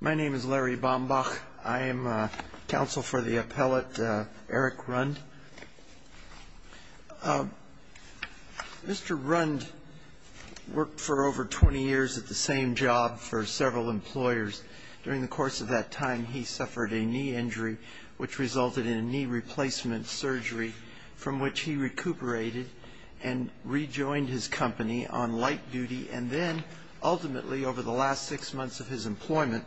My name is Larry Bombach. I am counsel for the appellate Eric Rund. Mr. Rund worked for over 20 years at the same job for several employers. During the course of that time, he suffered a knee injury, which resulted in a knee replacement surgery, from which he recuperated and rejoined his company on light duty, and then, ultimately, over the last six months of his employment,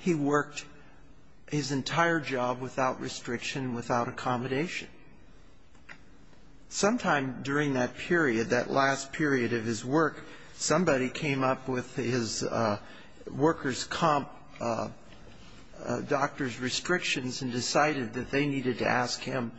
he worked his entire job without restriction, without accommodation. Sometime during that period, that last period of his work, somebody came up with his workers' comp doctor's restrictions and decided that they needed to ask him,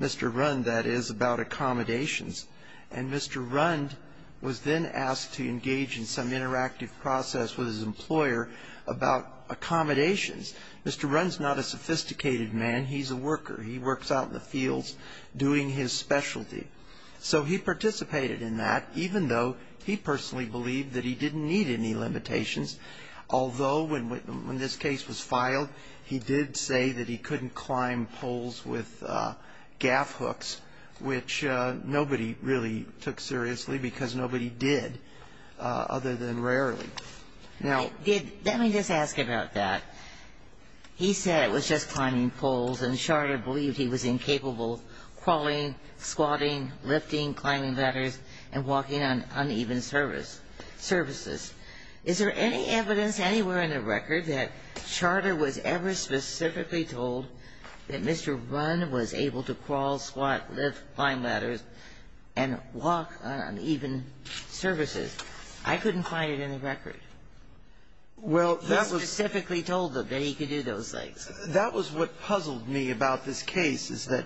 Mr. Rund, that is, about accommodations. And Mr. Rund was then asked to engage in some interactive process with his employer about accommodations. Mr. Rund is not a sophisticated man. He's a worker. He works out in the fields doing his specialty. So he participated in that, even though he personally believed that he didn't need any limitations, although when this case was filed, he did say that he couldn't climb poles with gaff hooks, which nobody really took seriously because nobody did, other than rarely. Now, did ñ let me just ask about that. He said it was just climbing poles, and Charter believed he was incapable of crawling, squatting, lifting climbing ladders, and walking on uneven surfaces. Is there any evidence anywhere in the record that Charter was ever specifically told that Mr. Rund was able to crawl, squat, lift climbing ladders, and walk on uneven surfaces? I couldn't find it in the record. He specifically told them that he could do those things. That was what puzzled me about this case, is that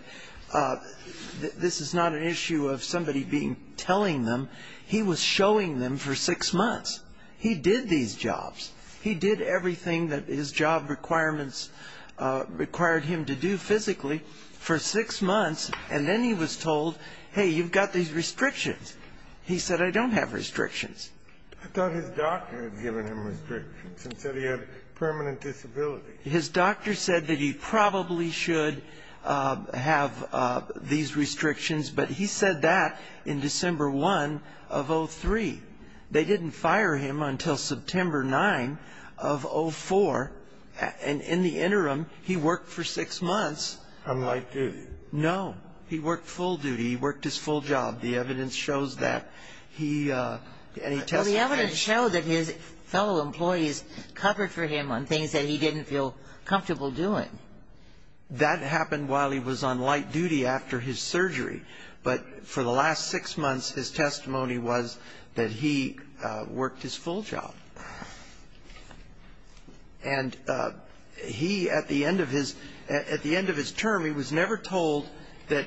this is not an issue of somebody being ñ telling them. He was showing them for six months. He did these jobs. He did everything that his job requirements required him to do physically for six months, and then he was told, hey, you've got these restrictions. He said, I don't have restrictions. I thought his doctor had given him restrictions and said he had permanent disability. His doctor said that he probably should have these restrictions, but he said that in December 1 of 03. They didn't fire him until September 9 of 04, and in the interim he worked for six months. On light duty? No. He worked full duty. He worked his full job. The evidence shows that. Well, the evidence showed that his fellow employees covered for him on things that he didn't feel comfortable doing. That happened while he was on light duty after his surgery, but for the last six months his testimony was that he worked his full job. And he, at the end of his term, he was never told that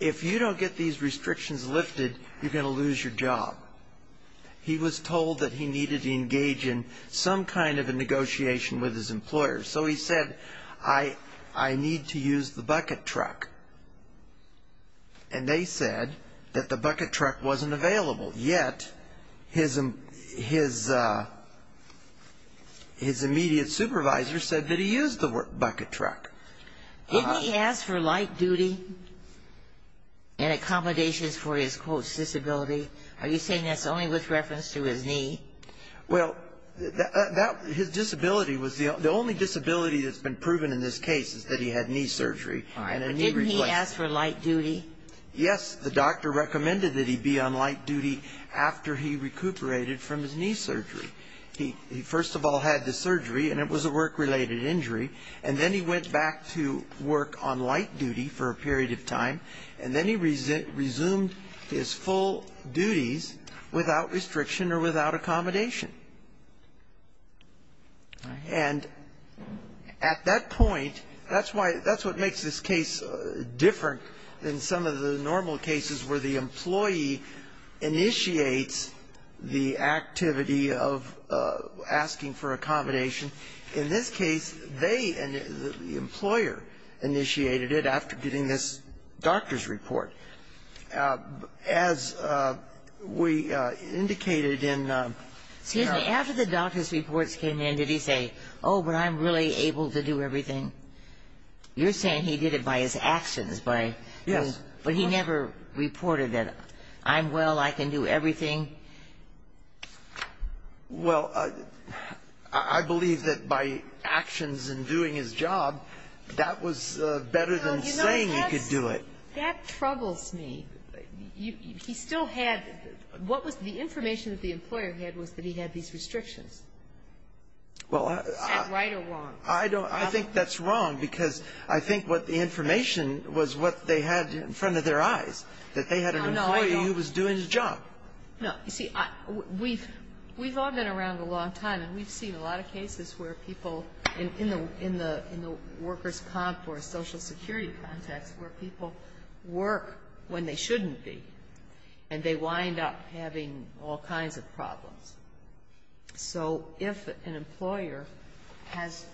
if you don't get these restrictions lifted, you're going to lose your job. He was told that he needed to engage in some kind of a negotiation with his employer. So he said, I need to use the bucket truck. And they said that the bucket truck wasn't available, yet his immediate supervisor said that he used the bucket truck. Didn't he ask for light duty and accommodations for his, quote, disability? Are you saying that's only with reference to his knee? Well, his disability was the only disability that's been proven in this case is that he had knee surgery. All right. But didn't he ask for light duty? Yes. The doctor recommended that he be on light duty after he recuperated from his knee surgery. He first of all had the surgery, and it was a work-related injury, and then he went back to work on light duty for a period of time, and then he resumed his full duties without restriction or without accommodation. And at that point, that's why that's what makes this case different than some of the normal cases where the employee initiates the activity of asking for accommodation. In this case, they, the employer, initiated it after getting this doctor's report. As we indicated in the... Excuse me. After the doctor's reports came in, did he say, oh, but I'm really able to do everything? You're saying he did it by his actions, by... Yes. But he never reported that I'm well, I can do everything? Well, I believe that by actions in doing his job, that was better than saying he could do it. That troubles me. He still had, what was the information that the employer had was that he had these restrictions. Is that right or wrong? I think that's wrong, because I think what the information was what they had in front of their eyes, that they had an employee who was doing his job. No, you see, we've all been around a long time, and we've seen a lot of cases where people in the workers' comp or social security context where people work when they shouldn't be, and they wind up having all kinds of problems. So if an employer has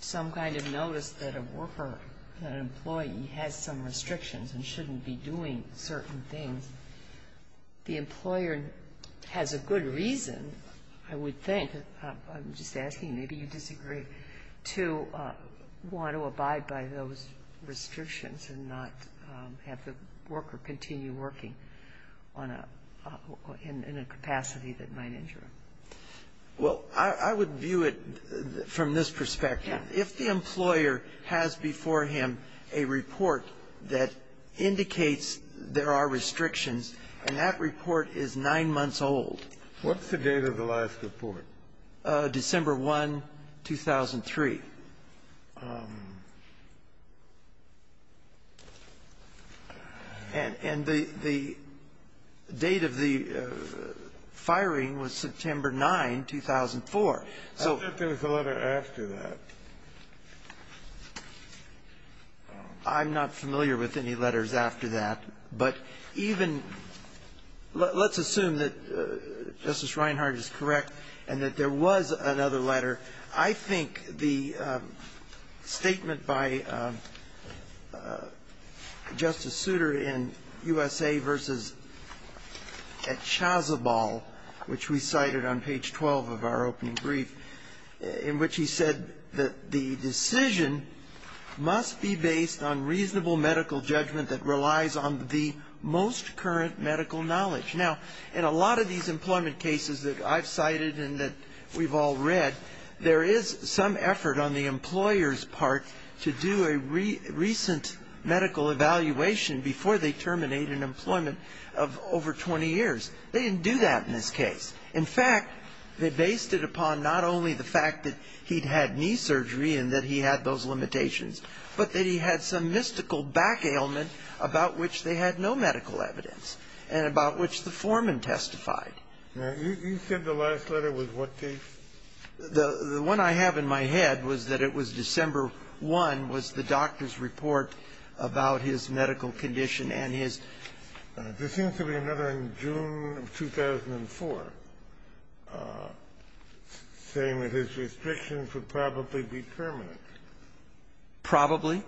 some kind of notice that a worker, that an employee has some restrictions and shouldn't be doing certain things, the employer has a good reason, I would think. I'm just asking, maybe you disagree, to want to abide by those restrictions and not have the worker continue working on a – in a capacity that might injure him. Well, I would view it from this perspective. Yes. If the employer has before him a report that indicates there are restrictions and that report is nine months old. What's the date of the last report? December 1, 2003. And the date of the firing was September 9, 2004. I thought there was a letter after that. I'm not familiar with any letters after that. But even – let's assume that Justice Reinhart is correct and that there was another letter. I think the statement by Justice Souter in USA v. at Chazabal, which we cited on page 12 of our opening brief, in which he said that the decision must be based on reasonable medical judgment that relies on the most current medical knowledge. Now, in a lot of these employment cases that I've cited and that we've all read, there is some effort on the employer's part to do a recent medical evaluation before they terminate an employment of over 20 years. They didn't do that in this case. In fact, they based it upon not only the fact that he'd had knee surgery and that he had those limitations, but that he had some mystical back ailment about which they had no medical evidence and about which the foreman testified. Now, you said the last letter was what case? The one I have in my head was that it was December 1, was the doctor's report about his medical condition and his – There seems to be another in June of 2004 saying that his restrictions would probably be permanent. Probably? Yes.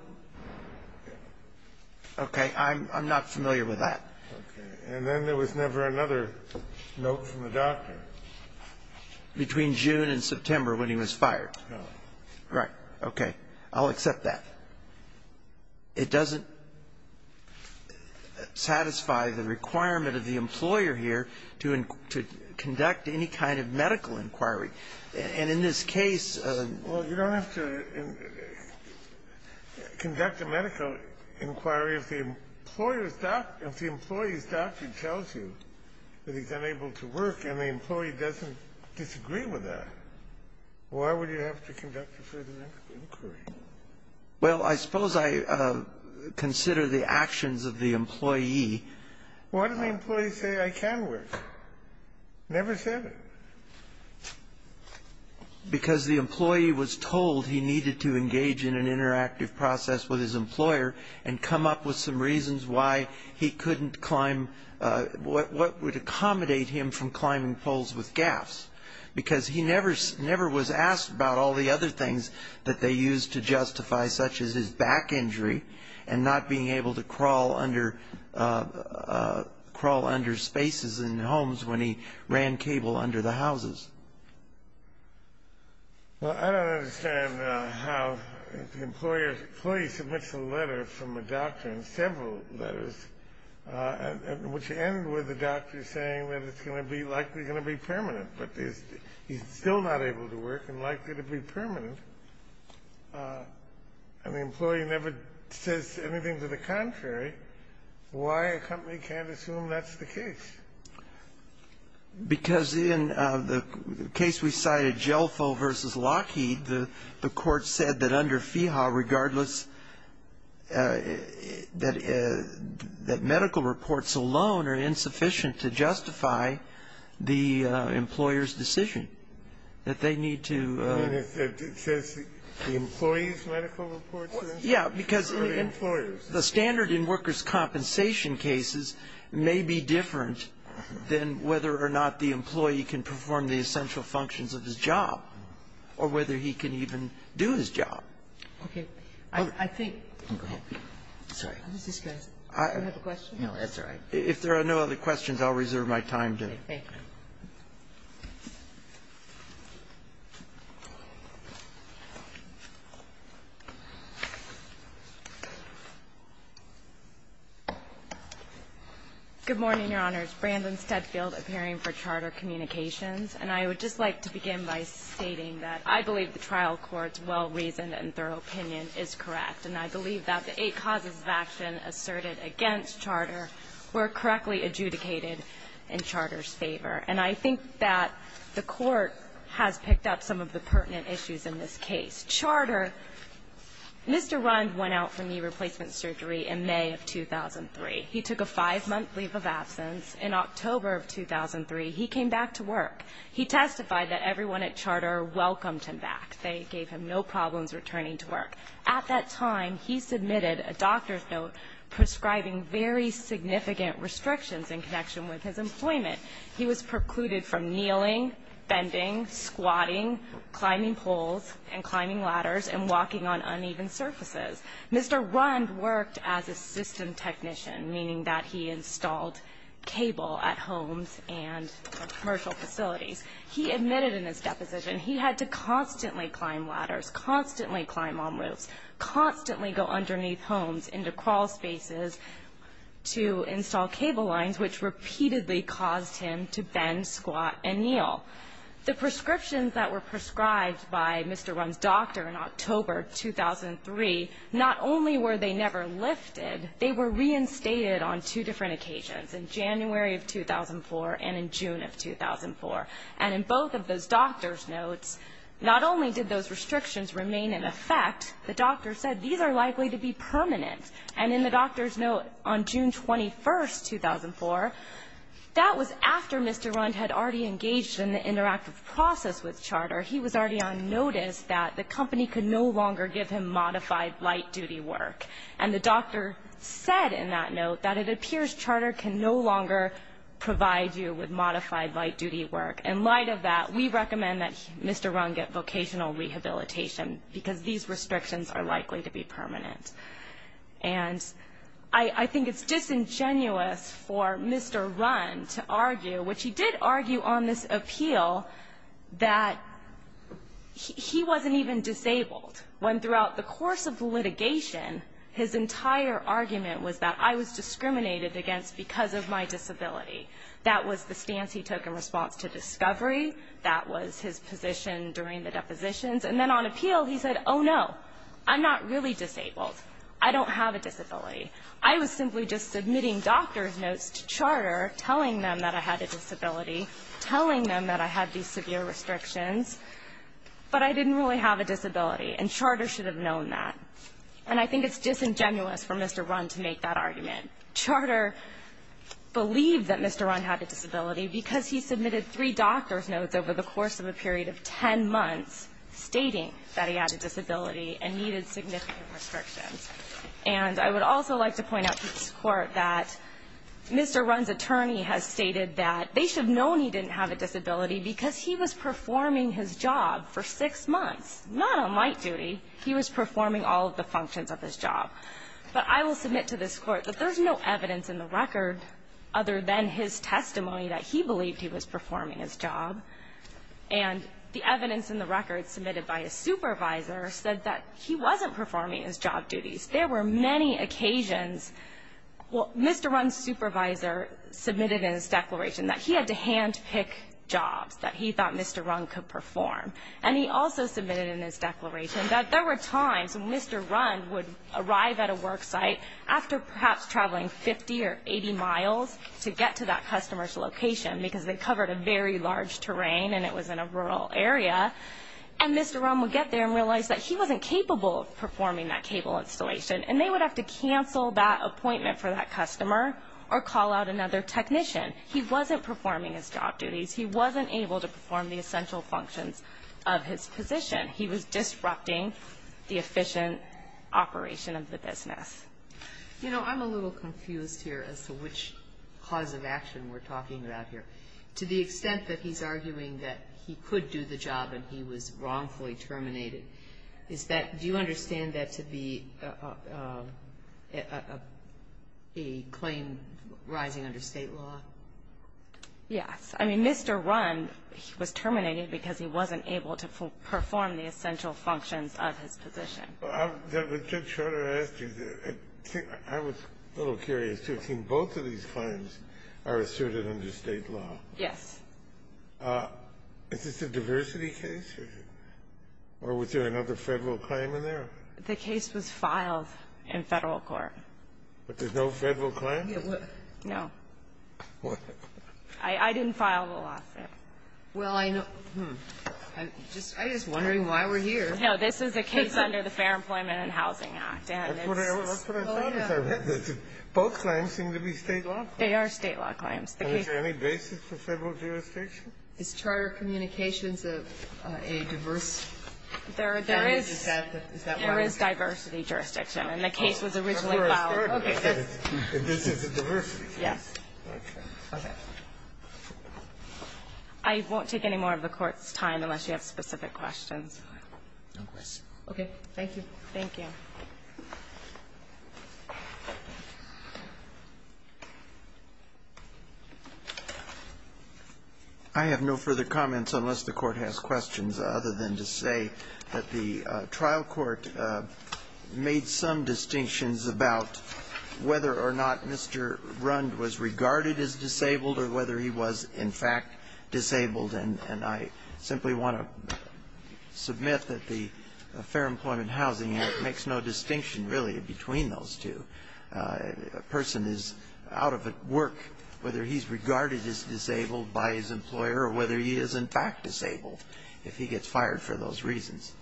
Okay. I'm not familiar with that. Okay. And then there was never another note from the doctor. Between June and September when he was fired. No. Right. Okay. I'll accept that. It doesn't satisfy the requirement of the employer here to conduct any kind of medical inquiry. And in this case – Well, you don't have to conduct a medical inquiry if the employer's doctor – if the employee's doctor tells you that he's unable to work and the employee doesn't disagree with that. Why would you have to conduct a further inquiry? Well, I suppose I consider the actions of the employee. Why did the employee say, I can work? Never said it. Because the employee was told he needed to engage in an interactive process with his employer and come up with some reasons why he couldn't climb – what would accommodate him from climbing poles with gaffs. Because he never was asked about all the other things that they used to justify, such as his back injury and not being able to crawl under spaces in homes when he ran cable under the houses. Well, I don't understand how the employee submits a letter from a doctor and several letters, which end with the doctor saying that it's going to be – likely going to be permanent, but he's still not able to work and likely to be permanent. And the employee never says anything to the contrary. Why a company can't assume that's the case? Because in the case we cited, Jelfo v. Lockheed, the court said that under FEHA, regardless – that medical reports alone are insufficient to justify the employer's decision, that they need to – I mean, it says the employee's medical reports are insufficient. Yeah, because the standard in workers' compensation cases may be different than whether or not the employee can perform the essential functions of his job or whether he can even do his job. Okay. I think – Go ahead. Sorry. How does this go? Do you have a question? No, that's all right. If there are no other questions, I'll reserve my time to – Thank you. Good morning, Your Honors. My name is Jennifer McCarty. I'm here in support of the trial court's Brandon Steadfield appearing for Charter Communications. And I would just like to begin by stating that I believe the trial court's well-reasoned and thorough opinion is correct, and I believe that the eight causes of action asserted against Charter were correctly adjudicated in Charter's favor. And I think that the court has picked up some of the pertinent issues in this case. Charter – Mr. Rund went out for knee replacement surgery in May of 2003. He took a five-month leave of absence. In October of 2003, he came back to work. He testified that everyone at Charter welcomed him back. They gave him no problems returning to work. At that time, he submitted a doctor's note prescribing very significant restrictions in connection with his employment. He was precluded from kneeling, bending, squatting, climbing poles, and climbing ladders, and walking on uneven surfaces. Mr. Rund worked as a system technician, meaning that he installed cable at homes and commercial facilities. He admitted in his deposition he had to constantly climb ladders, constantly climb on roofs, constantly go underneath homes into crawl spaces to install cable lines, which repeatedly caused him to bend, squat, and kneel. The prescriptions that were prescribed by Mr. Rund's doctor in October of 2003, not only were they never lifted, they were reinstated on two different occasions, in January of 2004 and in June of 2004. And in both of those doctor's notes, not only did those restrictions remain in effect, the doctor said these are likely to be permanent. And in the doctor's note on June 21, 2004, that was after Mr. Rund had already engaged in the interactive process with Charter. He was already on notice that the company could no longer give him modified light-duty work. And the doctor said in that note that it appears Charter can no longer provide you with modified light-duty work. In light of that, we recommend that Mr. Rund get vocational rehabilitation because these restrictions are likely to be permanent. And I think it's disingenuous for Mr. Rund to argue, which he did argue on this appeal, that he wasn't even disabled. When throughout the course of litigation, his entire argument was that I was discriminated against because of my disability. That was the stance he took in response to discovery. That was his position during the depositions. And then on appeal, he said, oh, no, I'm not really disabled. I don't have a disability. I was simply just submitting doctor's notes to Charter telling them that I had a disability, telling them that I had these severe restrictions, but I didn't really have a disability, and Charter should have known that. And I think it's disingenuous for Mr. Rund to make that argument. Charter believed that Mr. Rund had a disability because he submitted three doctor's months stating that he had a disability and needed significant restrictions. And I would also like to point out to this Court that Mr. Rund's attorney has stated that they should have known he didn't have a disability because he was performing his job for six months, not on light duty. He was performing all of the functions of his job. But I will submit to this Court that there's no evidence in the record other than his testimony that he believed he was performing his job. And the evidence in the record submitted by his supervisor said that he wasn't performing his job duties. There were many occasions, well, Mr. Rund's supervisor submitted in his declaration that he had to handpick jobs that he thought Mr. Rund could perform. And he also submitted in his declaration that there were times when Mr. Rund would arrive at a work site after perhaps traveling 50 or 80 miles to get to that customer's terrain, and it was in a rural area, and Mr. Rund would get there and realize that he wasn't capable of performing that cable installation. And they would have to cancel that appointment for that customer or call out another technician. He wasn't performing his job duties. He wasn't able to perform the essential functions of his position. He was disrupting the efficient operation of the business. You know, I'm a little confused here as to which cause of action we're talking about here. To the extent that he's arguing that he could do the job and he was wrongfully terminated, is that do you understand that to be a claim rising under State law? Yes. I mean, Mr. Rund, he was terminated because he wasn't able to perform the essential functions of his position. I was just trying to ask you, I was a little curious too. I mean, both of these claims are asserted under State law. Yes. Is this a diversity case? Or was there another Federal claim in there? The case was filed in Federal court. But there's no Federal claim? No. I didn't file the lawsuit. Well, I know. I'm just wondering why we're here. No, this is a case under the Fair Employment and Housing Act. That's what I found as I read this. Both claims seem to be State law claims. They are State law claims. Is there any basis for Federal jurisdiction? Is charter communications a diverse case? There is diversity jurisdiction. And the case was originally filed. Okay. This is a diversity case. Yes. Okay. I won't take any more of the Court's time unless you have specific questions. Okay. Thank you. Thank you. Thank you. I have no further comments unless the Court has questions, other than to say that the trial court made some distinctions about whether or not Mr. Rund was regarded as disabled or whether he was, in fact, disabled. And I simply want to submit that the Fair Employment and Housing Act makes no distinction really between those two. A person is out of work whether he's regarded as disabled by his employer or whether he is, in fact, disabled if he gets fired for those reasons.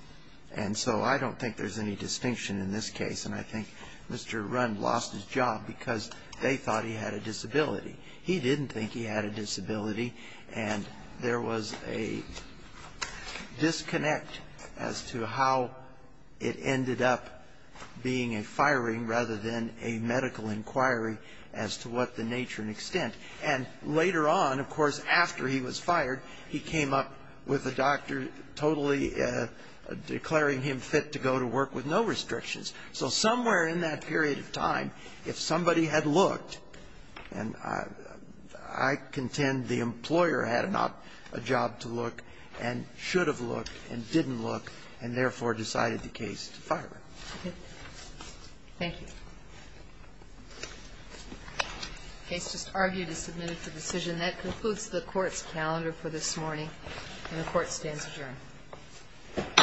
And so I don't think there's any distinction in this case. And I think Mr. Rund lost his job because they thought he had a disability. He didn't think he had a disability. And there was a disconnect as to how it ended up being a firing rather than a medical inquiry as to what the nature and extent. And later on, of course, after he was fired, he came up with a doctor totally declaring him fit to go to work with no restrictions. So somewhere in that period of time, if somebody had looked, and I contend the employer had not a job to look and should have looked and didn't look, and therefore decided the case to fire him. Thank you. The case just argued is submitted for decision. That concludes the Court's calendar for this morning, and the Court stands adjourned.